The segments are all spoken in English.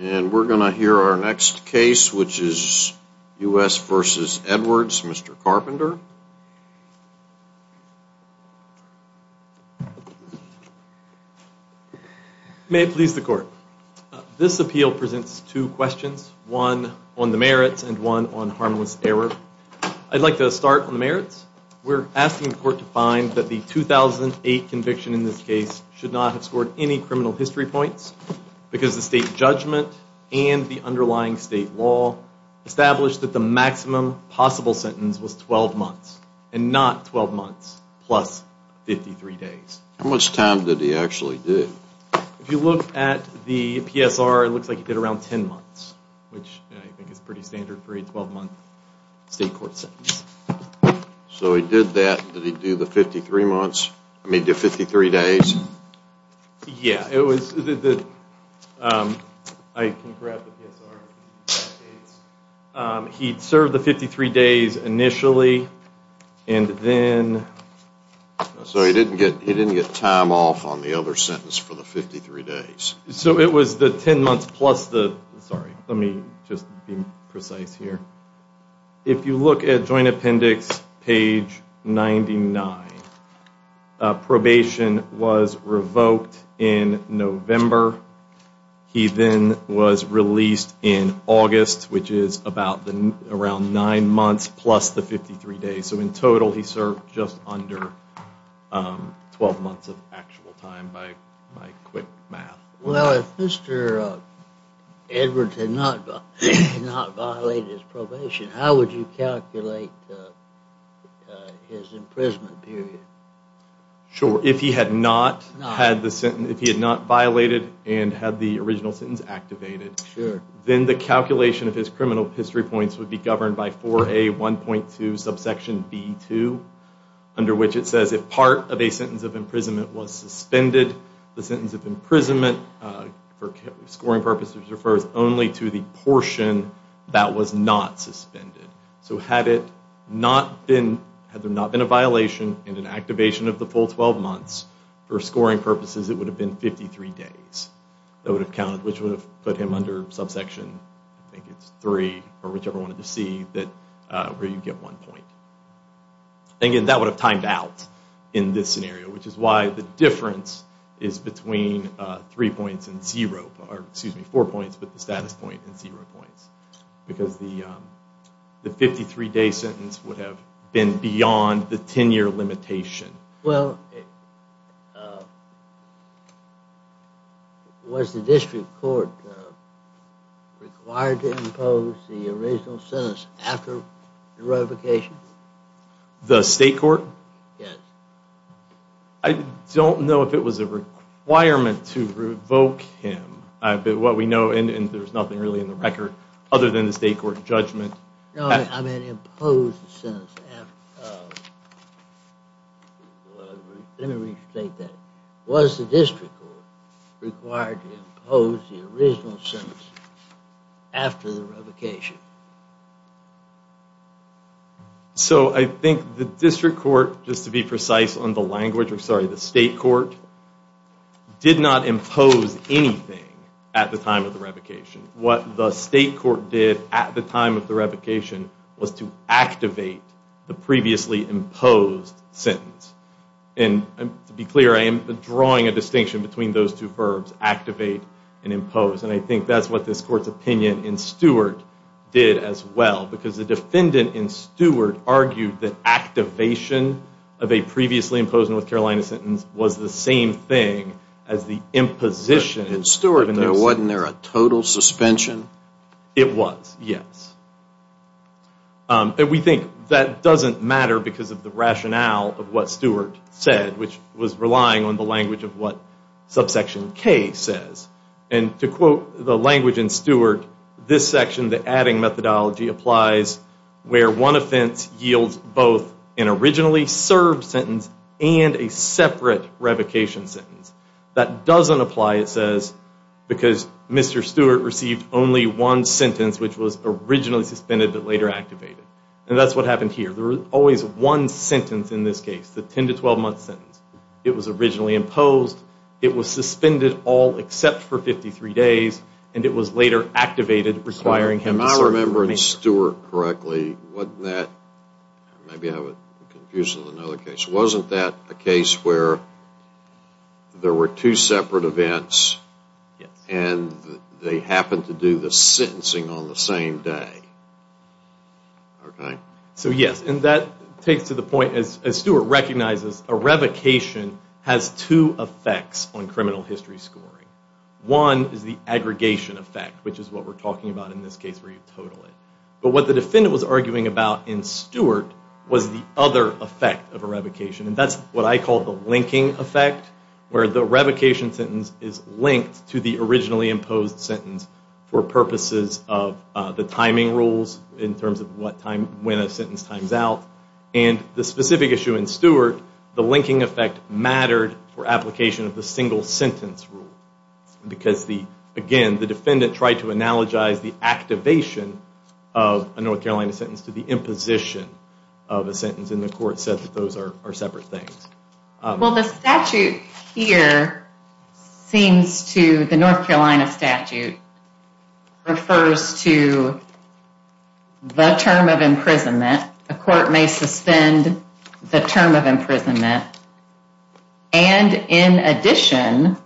And we're going to hear our next case, which is U.S. v. Edwards, Mr. Carpenter. May it please the Court. This appeal presents two questions, one on the merits and one on harmless error. I'd like to start on the merits. We're asking the Court to find that the 2008 conviction in this case should not have scored any criminal history points because the state judgment and the underlying state law established that the maximum possible sentence was 12 months and not 12 months plus 53 days. How much time did he actually do? If you look at the PSR, it looks like he did around 10 months, which I think is pretty standard for a 12-month state court sentence. So he did that, did he do the 53 days? Yeah, I can grab the PSR. He served the 53 days initially and then... So he didn't get time off on the other sentence for the 53 days. So it was the 10 months plus the... Sorry, let me just be precise here. If you look at Joint Appendix page 99, probation was revoked in November. He then was released in August, which is around nine months plus the 53 days. So in total, he served just under 12 months of actual time by quick math. Well, if Mr. Edwards had not violated his probation, how would you calculate his imprisonment period? Sure. If he had not violated and had the original sentence activated, then the calculation of his criminal history points would be governed by 4A1.2 subsection B2, under which it says if part of a sentence of imprisonment was suspended, the sentence of imprisonment for scoring purposes refers only to the portion that was not suspended. So had it not been, had there not been a violation and an activation of the full 12 months, for scoring purposes, it would have been 53 days. That would have counted, which would have put him under subsection, I think it's three, or whichever one of the C, where you get one point. Again, that would have timed out in this scenario, which is why the difference is between three points and zero, or excuse me, four points with the status point and zero points, because the 53-day sentence would have been beyond the 10-year limitation. Well, was the district court required to impose the original sentence after the revocation? The state court? Yes. I don't know if it was a requirement to revoke him, but what we know, and there's nothing really in the record other than the state court judgment. No, I meant impose the sentence. Let me restate that. Was the district court required to impose the original sentence after the revocation? So I think the district court, just to be precise on the language, I'm sorry, the state court did not impose anything at the time of the revocation. What the state court did at the time of the revocation was to activate the previously imposed sentence. And to be clear, I am drawing a distinction between those two verbs, activate and impose, and I think that's what this court's opinion in Stewart did as well, because the defendant in Stewart argued that activation of a previously imposed North Carolina sentence was the same thing as the imposition. In Stewart, wasn't there a total suspension? It was, yes. And we think that doesn't matter because of the rationale of what Stewart said, which was relying on the language of what subsection K says. And to quote the language in Stewart, this section, the adding methodology, applies where one offense yields both an originally served sentence and a separate revocation sentence. That doesn't apply, it says, because Mr. Stewart received only one sentence, which was originally suspended but later activated. And that's what happened here. There was always one sentence in this case, the 10 to 12-month sentence. It was originally imposed, it was suspended all except for 53 days, and it was later activated requiring him to serve. If I remember Stewart correctly, wasn't that, maybe I'm confusing another case, wasn't that a case where there were two separate events and they happened to do the sentencing on the same day? So yes, and that takes to the point, as Stewart recognizes, a revocation has two effects on criminal history scoring. One is the aggregation effect, which is what we're talking about in this case where you total it. But what the defendant was arguing about in Stewart was the other effect of a revocation, and that's what I call the linking effect, where the revocation sentence is linked to the originally imposed sentence for purposes of the timing rules in terms of when a sentence times out. And the specific issue in Stewart, the linking effect mattered for application of the single sentence rule, because, again, the defendant tried to analogize the activation of a North Carolina sentence to the imposition of a sentence, and the court said that those are separate things. Well, the statute here seems to, the North Carolina statute, refers to the term of imprisonment. A court may suspend the term of imprisonment. And, in addition,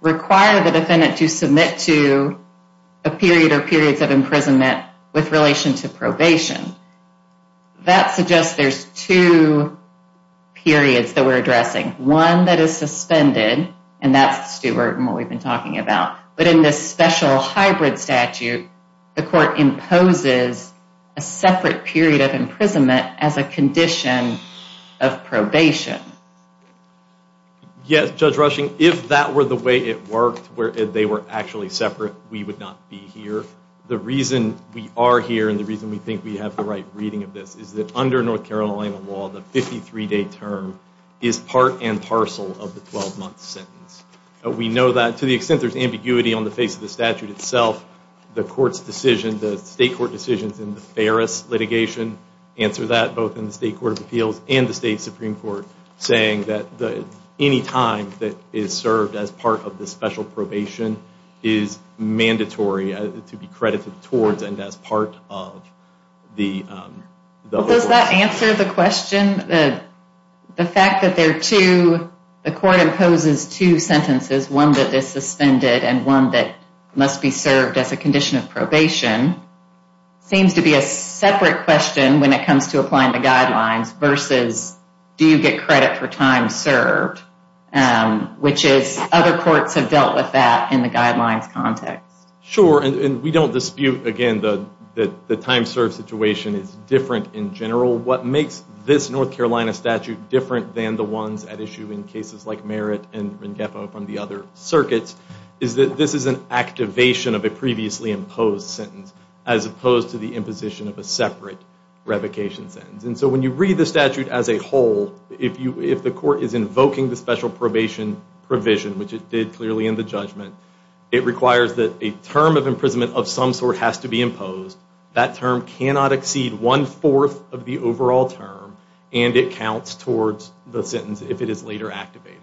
require the defendant to submit to a period or periods of imprisonment with relation to probation. That suggests there's two periods that we're addressing. One that is suspended, and that's Stewart and what we've been talking about. But in this special hybrid statute, the court imposes a separate period of imprisonment as a condition of probation. Yes, Judge Rushing, if that were the way it worked, where they were actually separate, we would not be here. The reason we are here and the reason we think we have the right reading of this is that under North Carolina law, the 53-day term is part and parcel of the 12-month sentence. We know that to the extent there's ambiguity on the face of the statute itself, the state court decisions in the Ferris litigation answer that, both in the State Court of Appeals and the State Supreme Court, saying that any time that is served as part of the special probation is mandatory to be credited towards and as part of the... Does that answer the question? The fact that there are two, the court imposes two sentences, one that is suspended and one that must be served as a condition of probation, seems to be a separate question when it comes to applying the guidelines versus do you get credit for time served, which is other courts have dealt with that in the guidelines context. Sure, and we don't dispute, again, that the time served situation is different in general. What makes this North Carolina statute different than the ones at issue in cases like Merritt and Rengefo from the other circuits is that this is an activation of a previously imposed sentence as opposed to the imposition of a separate revocation sentence. And so when you read the statute as a whole, if the court is invoking the special probation provision, which it did clearly in the judgment, it requires that a term of imprisonment of some sort has to be imposed. That term cannot exceed one-fourth of the overall term, and it counts towards the sentence if it is later activated.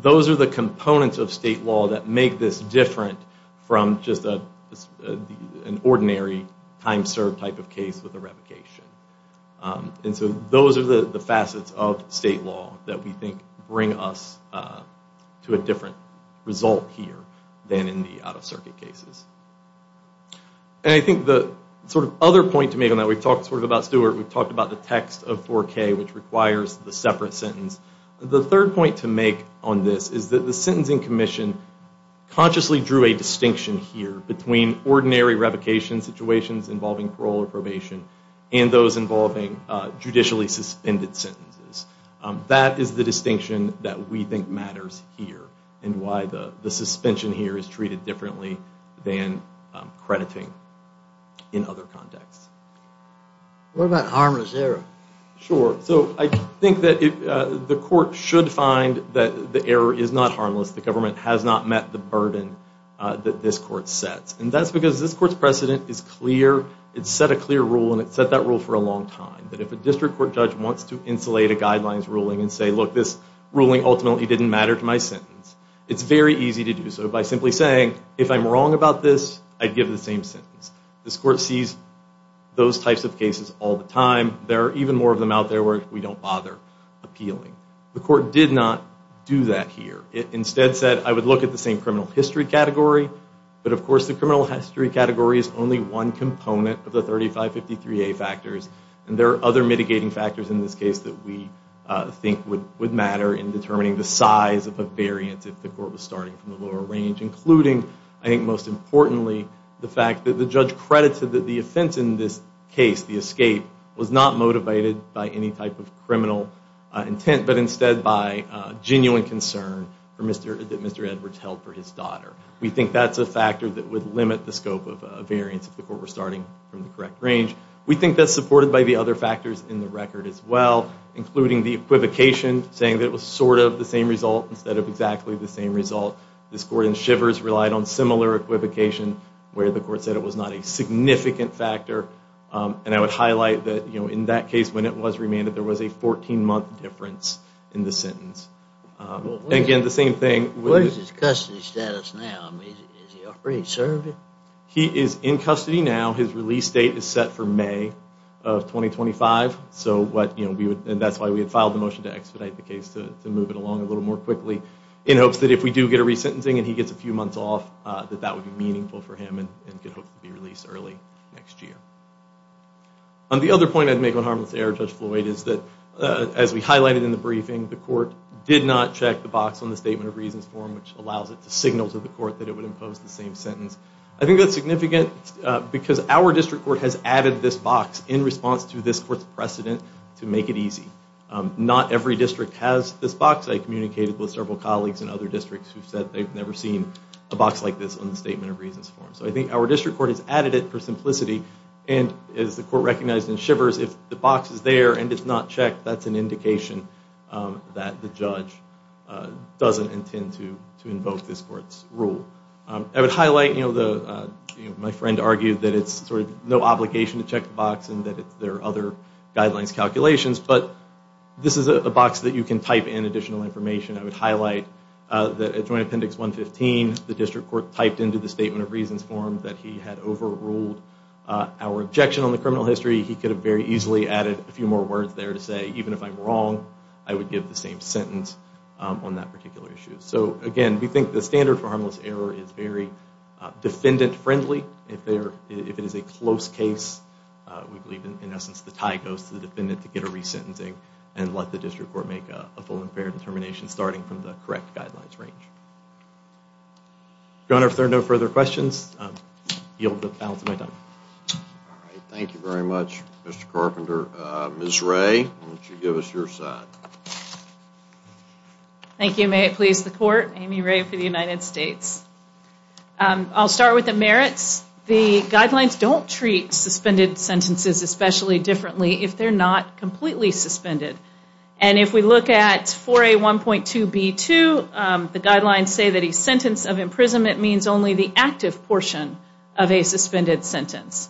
Those are the components of state law that make this different from just an ordinary time served type of case with a revocation. And so those are the facets of state law that we think bring us to a different result here than in the out-of-circuit cases. And I think the sort of other point to make on that, and we've talked sort of about Stuart, we've talked about the text of 4K, which requires the separate sentence. The third point to make on this is that the sentencing commission consciously drew a distinction here between ordinary revocation situations involving parole or probation and those involving judicially suspended sentences. That is the distinction that we think matters here and why the suspension here is treated differently than crediting in other contexts. What about harmless error? Sure. So I think that the court should find that the error is not harmless. The government has not met the burden that this court sets. And that's because this court's precedent is clear. It's set a clear rule, and it's set that rule for a long time, that if a district court judge wants to insulate a guidelines ruling and say, look, this ruling ultimately didn't matter to my sentence, it's very easy to do so by simply saying, if I'm wrong about this, I'd give the same sentence. This court sees those types of cases all the time. There are even more of them out there where we don't bother appealing. The court did not do that here. It instead said, I would look at the same criminal history category, but of course the criminal history category is only one component of the 3553A factors, and there are other mitigating factors in this case that we think would matter in determining the size of a variance if the court was starting from the lower range, including, I think most importantly, the fact that the judge credited that the offense in this case, the escape, was not motivated by any type of criminal intent, but instead by genuine concern that Mr. Edwards held for his daughter. We think that's a factor that would limit the scope of a variance if the court were starting from the correct range. We think that's supported by the other factors in the record as well, including the equivocation, saying that it was sort of the same result instead of exactly the same result. This court in Shivers relied on similar equivocation where the court said it was not a significant factor, and I would highlight that in that case when it was remanded, there was a 14-month difference in the sentence. Again, the same thing. What is his custody status now? Is he a free servant? He is in custody now. His release date is set for May of 2025, and that's why we had filed the motion to expedite the case to move it along a little more quickly in hopes that if we do get a resentencing and he gets a few months off, that that would be meaningful for him and could hopefully be released early next year. The other point I'd make on harmless error, Judge Floyd, is that as we highlighted in the briefing, the court did not check the box on the Statement of Reasons form which allows it to signal to the court that it would impose the same sentence. I think that's significant because our district court has added this box in response to this court's precedent to make it easy. Not every district has this box. I communicated with several colleagues in other districts who said they've never seen a box like this on the Statement of Reasons form. So I think our district court has added it for simplicity, and as the court recognized in Shivers, if the box is there and it's not checked, that's an indication that the judge doesn't intend to invoke this court's rule. I would highlight my friend argued that it's no obligation to check the box and that there are other guidelines calculations, but this is a box that you can type in additional information. I would highlight that at Joint Appendix 115, the district court typed into the Statement of Reasons form that he had overruled our objection on the criminal history. He could have very easily added a few more words there to say, even if I'm wrong, I would give the same sentence on that particular issue. So, again, we think the standard for harmless error is very defendant-friendly. If it is a close case, we believe, in essence, the tie goes to the defendant to get a resentencing and let the district court make a full and fair determination starting from the correct guidelines range. Your Honor, if there are no further questions, I yield the balance of my time. Thank you very much, Mr. Carpenter. Ms. Ray, why don't you give us your side? Thank you. May it please the Court. Amy Ray for the United States. I'll start with the merits. The guidelines don't treat suspended sentences especially differently if they're not completely suspended. And if we look at 4A1.2b2, the guidelines say that a sentence of imprisonment means only the active portion of a suspended sentence.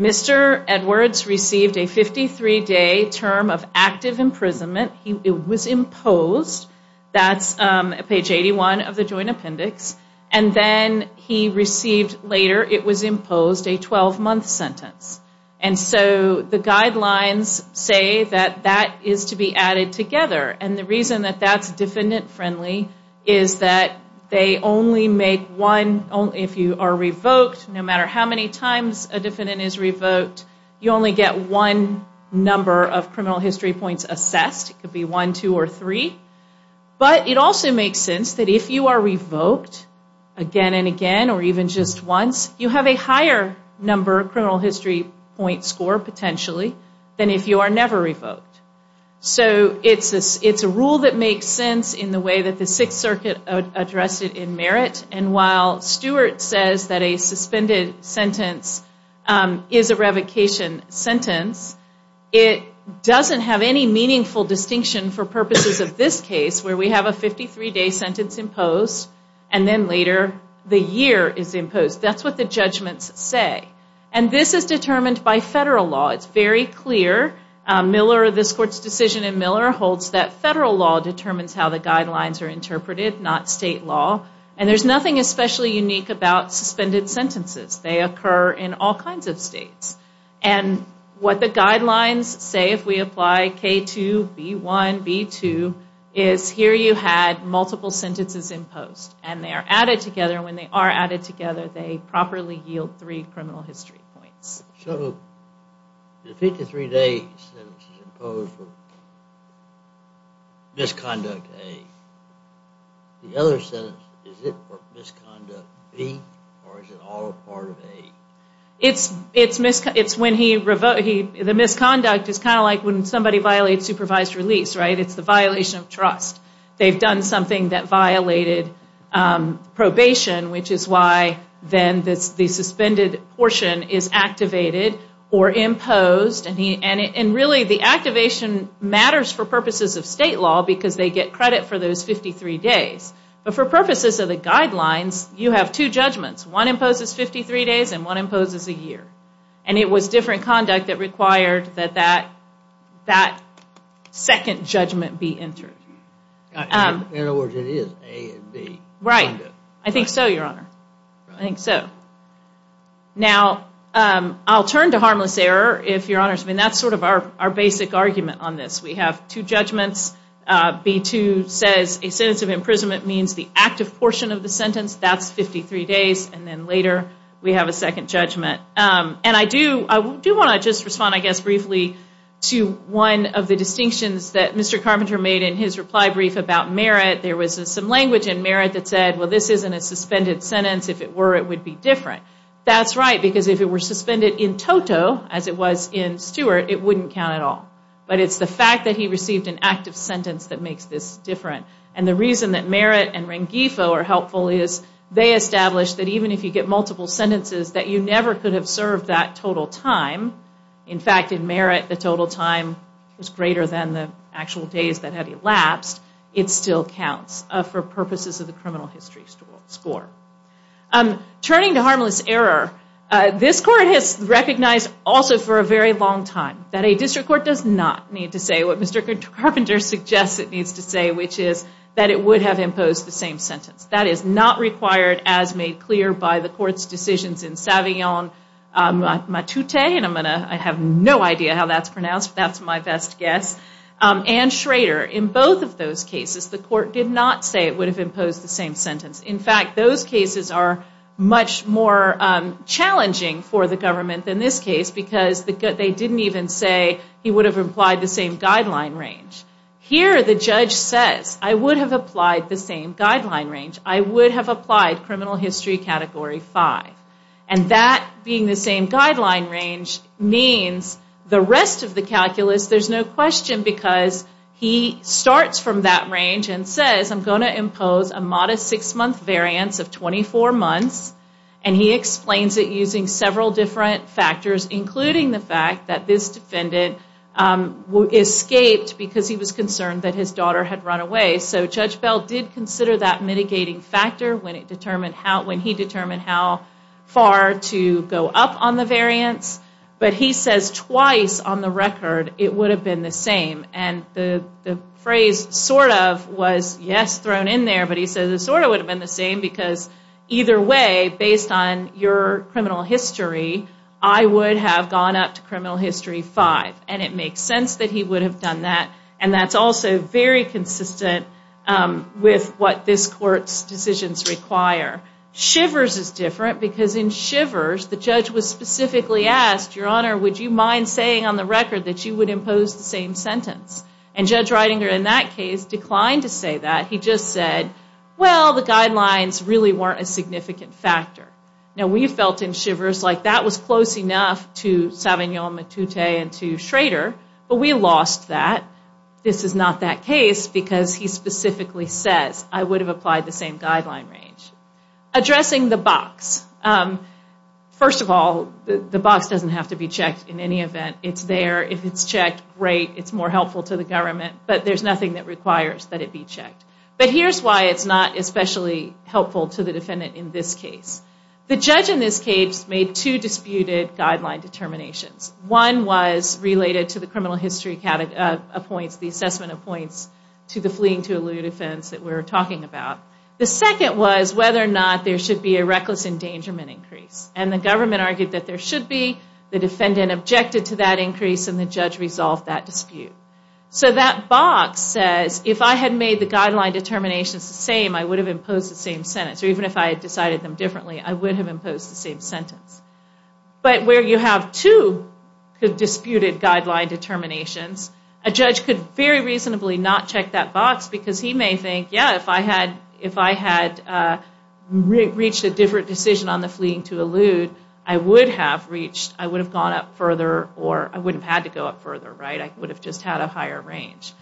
Mr. Edwards received a 53-day term of active imprisonment. It was imposed. That's page 81 of the Joint Appendix. And then he received later, it was imposed, a 12-month sentence. And so the guidelines say that that is to be added together. And the reason that that's defendant-friendly is that they only make one, if you are revoked, no matter how many times a defendant is revoked, you only get one number of criminal history points assessed. It could be one, two, or three. But it also makes sense that if you are revoked again and again or even just once, you have a higher number of criminal history points scored potentially than if you are never revoked. So it's a rule that makes sense in the way that the Sixth Circuit addressed it in merit. And while Stewart says that a suspended sentence is a revocation sentence, it doesn't have any meaningful distinction for purposes of this case where we have a 53-day sentence imposed and then later the year is imposed. That's what the judgments say. And this is determined by federal law. It's very clear. This Court's decision in Miller holds that federal law determines how the guidelines are interpreted, not state law. And there's nothing especially unique about suspended sentences. They occur in all kinds of states. And what the guidelines say if we apply K2, B1, B2, is here you had multiple sentences imposed, and they are added together. When they are added together, they properly yield three criminal history points. So the 53-day sentence is imposed for misconduct A. The other sentence, is it for misconduct B, or is it all part of A? It's when he revoked. The misconduct is kind of like when somebody violates supervised release, right? It's the violation of trust. They've done something that violated probation, which is why then the suspended portion is activated or imposed. And really the activation matters for purposes of state law because they get credit for those 53 days. But for purposes of the guidelines, you have two judgments. One imposes 53 days and one imposes a year. And it was different conduct that required that that second judgment be entered. In other words, it is A and B. Right. I think so, Your Honor. I think so. Now, I'll turn to harmless error. That's sort of our basic argument on this. We have two judgments. B2 says a sentence of imprisonment means the active portion of the sentence. That's 53 days, and then later we have a second judgment. And I do want to just respond, I guess, briefly to one of the distinctions that Mr. Carpenter made in his reply brief about merit. There was some language in merit that said, well, this isn't a suspended sentence. If it were, it would be different. That's right, because if it were suspended in toto, as it was in Stewart, it wouldn't count at all. But it's the fact that he received an active sentence that makes this different. And the reason that merit and rengifo are helpful is they establish that even if you get multiple sentences, that you never could have served that total time. In fact, in merit, the total time was greater than the actual days that had elapsed. It still counts for purposes of the criminal history score. Turning to harmless error, this court has recognized also for a very long time that a district court does not need to say what Mr. Carpenter suggests it needs to say, which is that it would have imposed the same sentence. That is not required as made clear by the court's decisions in Savillon, Matute, and I have no idea how that's pronounced. That's my best guess, and Schrader. In both of those cases, the court did not say it would have imposed the same sentence. In fact, those cases are much more challenging for the government than this case because they didn't even say he would have applied the same guideline range. Here, the judge says, I would have applied the same guideline range. I would have applied criminal history category 5. And that being the same guideline range means the rest of the calculus, there's no question because he starts from that range and says, I'm going to impose a modest six-month variance of 24 months, and he explains it using several different factors, including the fact that this defendant escaped because he was concerned that his daughter had run away. So Judge Bell did consider that mitigating factor when he determined how far to go up on the variance. But he says twice on the record it would have been the same. And the phrase sort of was yes thrown in there, but he says it sort of would have been the same because either way, based on your criminal history, I would have gone up to criminal history 5. And it makes sense that he would have done that, and that's also very consistent with what this court's decisions require. Shivers is different because in Shivers, the judge was specifically asked, Your Honor, would you mind saying on the record that you would impose the same sentence? And Judge Reidinger in that case declined to say that. He just said, well, the guidelines really weren't a significant factor. Now, we felt in Shivers like that was close enough to Savignon-Matute and to Schrader, but we lost that. This is not that case because he specifically says, I would have applied the same guideline range. Addressing the box. First of all, the box doesn't have to be checked in any event. It's there. If it's checked, great. It's more helpful to the government. But there's nothing that requires that it be checked. But here's why it's not especially helpful to the defendant in this case. The judge in this case made two disputed guideline determinations. One was related to the criminal history points, the assessment of points to the fleeing to a lieu defense that we were talking about. The second was whether or not there should be a reckless endangerment increase. And the government argued that there should be. The defendant objected to that increase, and the judge resolved that dispute. So that box says, if I had made the guideline determinations the same, I would have imposed the same sentence. Or even if I had decided them differently, I would have imposed the same sentence. But where you have two disputed guideline determinations, a judge could very reasonably not check that box, because he may think, yeah, if I had reached a different decision on the fleeing to a lieu, I would have reached, I would have gone up further, or I wouldn't have had to go up further. I would have just had a higher range.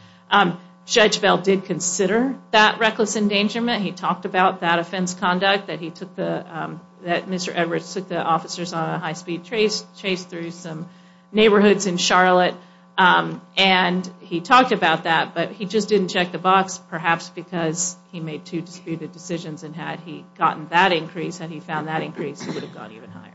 Judge Bell did consider that reckless endangerment. He talked about that offense conduct, that Mr. Edwards took the officers on a high-speed chase through some neighborhoods in Charlotte. And he talked about that, but he just didn't check the box, perhaps because he made two disputed decisions, and had he gotten that increase and he found that increase, he would have gone even higher.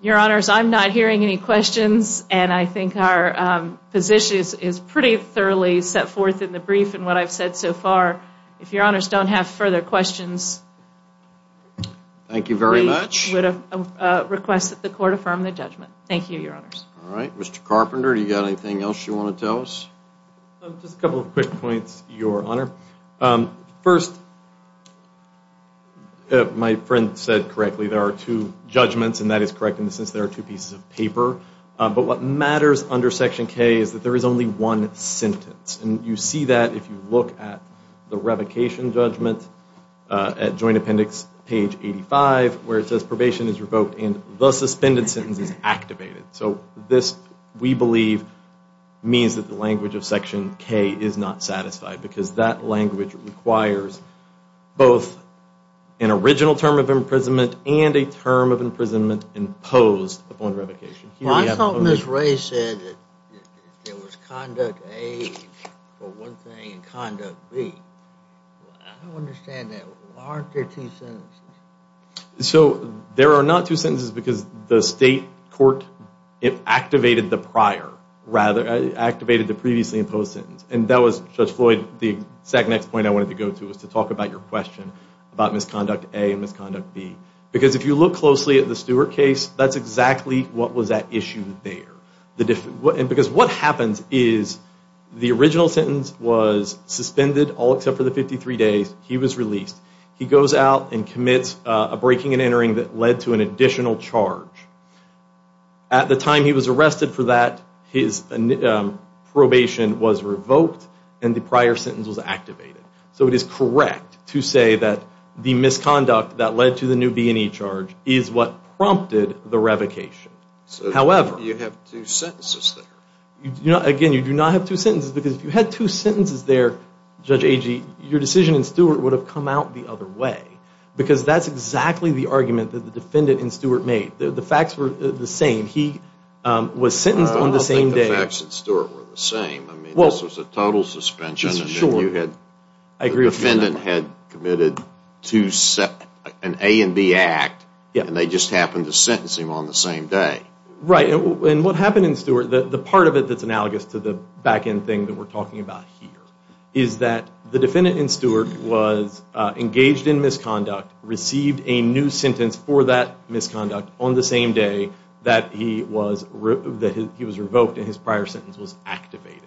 Your Honors, I'm not hearing any questions, and I think our position is pretty thoroughly set forth in the brief and what I've said so far. If Your Honors don't have further questions, we would request that the Court affirm the judgment. Thank you, Your Honors. All right. Mr. Carpenter, do you have anything else you want to tell us? Just a couple of quick points, Your Honor. First, my friend said correctly there are two judgments, and that is correct in the sense there are two pieces of paper. But what matters under Section K is that there is only one sentence, and you see that if you look at the revocation judgment at Joint Appendix page 85 where it says probation is revoked and the suspended sentence is activated. So this, we believe, means that the language of Section K is not satisfied because that language requires both an original term of imprisonment and a term of imprisonment imposed upon revocation. I thought Ms. Ray said that there was Conduct A for one thing and Conduct B. I don't understand that. Aren't there two sentences? So there are not two sentences because the State Court activated the prior, rather activated the previously imposed sentence. And that was, Judge Floyd, the exact next point I wanted to go to was to talk about your question about Misconduct A and Misconduct B. Because if you look closely at the Stewart case, that's exactly what was at issue there. Because what happens is the original sentence was suspended all except for the 53 days. He was released. He goes out and commits a breaking and entering that led to an additional charge. At the time he was arrested for that, his probation was revoked and the prior sentence was activated. So it is correct to say that the misconduct that led to the new B&E charge is what prompted the revocation. So you have two sentences there. Again, you do not have two sentences because if you had two sentences there, Judge Agee, your decision in Stewart would have come out the other way because that's exactly the argument that the defendant in Stewart made. The facts were the same. He was sentenced on the same day. I don't think the facts in Stewart were the same. I mean, this was a total suspension. Sure. The defendant had committed an A&B act and they just happened to sentence him on the same day. Right. And what happened in Stewart, the part of it that's analogous to the back-end thing that we're talking about here is that the defendant in Stewart was engaged in misconduct, received a new sentence for that misconduct on the same day that he was revoked and his prior sentence was activated.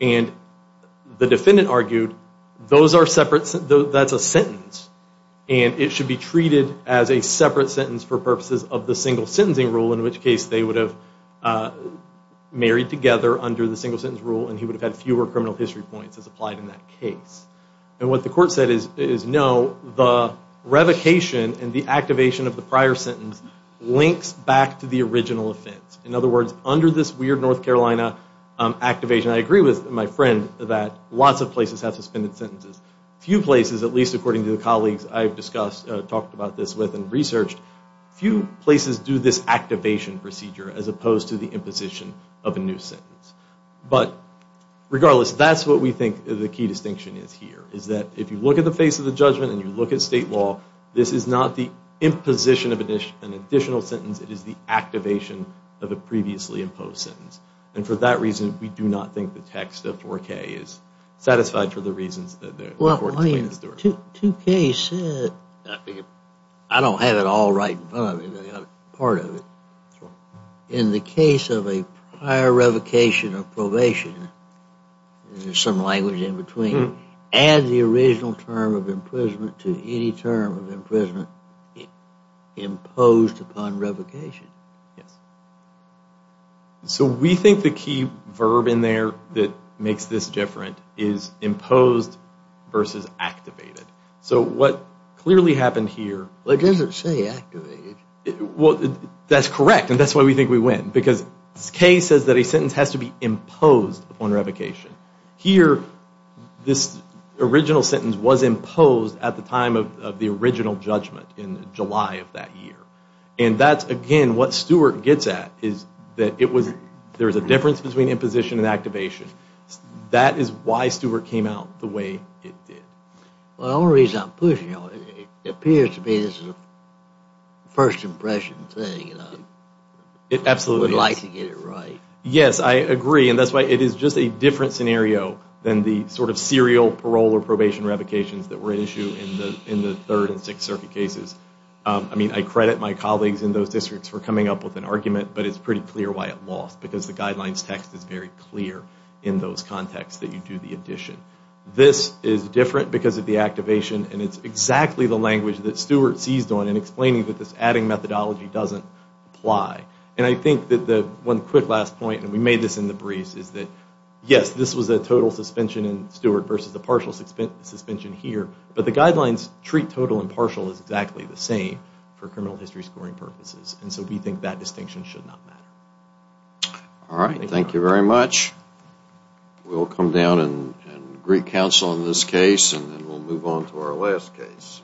And the defendant argued that's a sentence and it should be treated as a separate sentence for purposes of the single sentencing rule, in which case they would have married together under the single sentence rule and he would have had fewer criminal history points as applied in that case. And what the court said is no, the revocation and the activation of the prior sentence links back to the original offense. In other words, under this weird North Carolina activation, I agree with my friend that lots of places have suspended sentences. Few places, at least according to the colleagues I've discussed, talked about this with and researched, few places do this activation procedure as opposed to the imposition of a new sentence. But regardless, that's what we think the key distinction is here, is that if you look at the face of the judgment and you look at state law, this is not the imposition of an additional sentence, it is the activation of a previously imposed sentence. And for that reason, we do not think the text of 4K is satisfied for the reasons that the court explained in Stewart. But 2K said, I don't have it all right in front of me, but part of it. In the case of a prior revocation or probation, there's some language in between, add the original term of imprisonment to any term of imprisonment imposed upon revocation. So we think the key verb in there that makes this different is imposed versus activated. So what clearly happened here... It doesn't say activated. Well, that's correct, and that's why we think we win, because K says that a sentence has to be imposed upon revocation. Here, this original sentence was imposed at the time of the original judgment in July of that year. And that's, again, what Stewart gets at, is that there's a difference between imposition and activation. That is why Stewart came out the way it did. Well, the only reason I'm pushing on it, it appears to be this is a first impression thing, and I would like to get it right. Yes, I agree, and that's why it is just a different scenario than the sort of serial parole or probation revocations that were at issue in the Third and Sixth Circuit cases. I mean, I credit my colleagues in those districts for coming up with an argument, but it's pretty clear why it lost, because the Guidelines text is very clear in those contexts that you do the addition. This is different because of the activation, and it's exactly the language that Stewart seized on in explaining that this adding methodology doesn't apply. And I think that the one quick last point, and we made this in the briefs, is that, yes, this was a total suspension in Stewart versus a partial suspension here, but the Guidelines treat total and partial as exactly the same for criminal history scoring purposes, and so we think that distinction should not matter. All right, thank you very much. We'll come down and greet counsel on this case, and then we'll move on to our last case.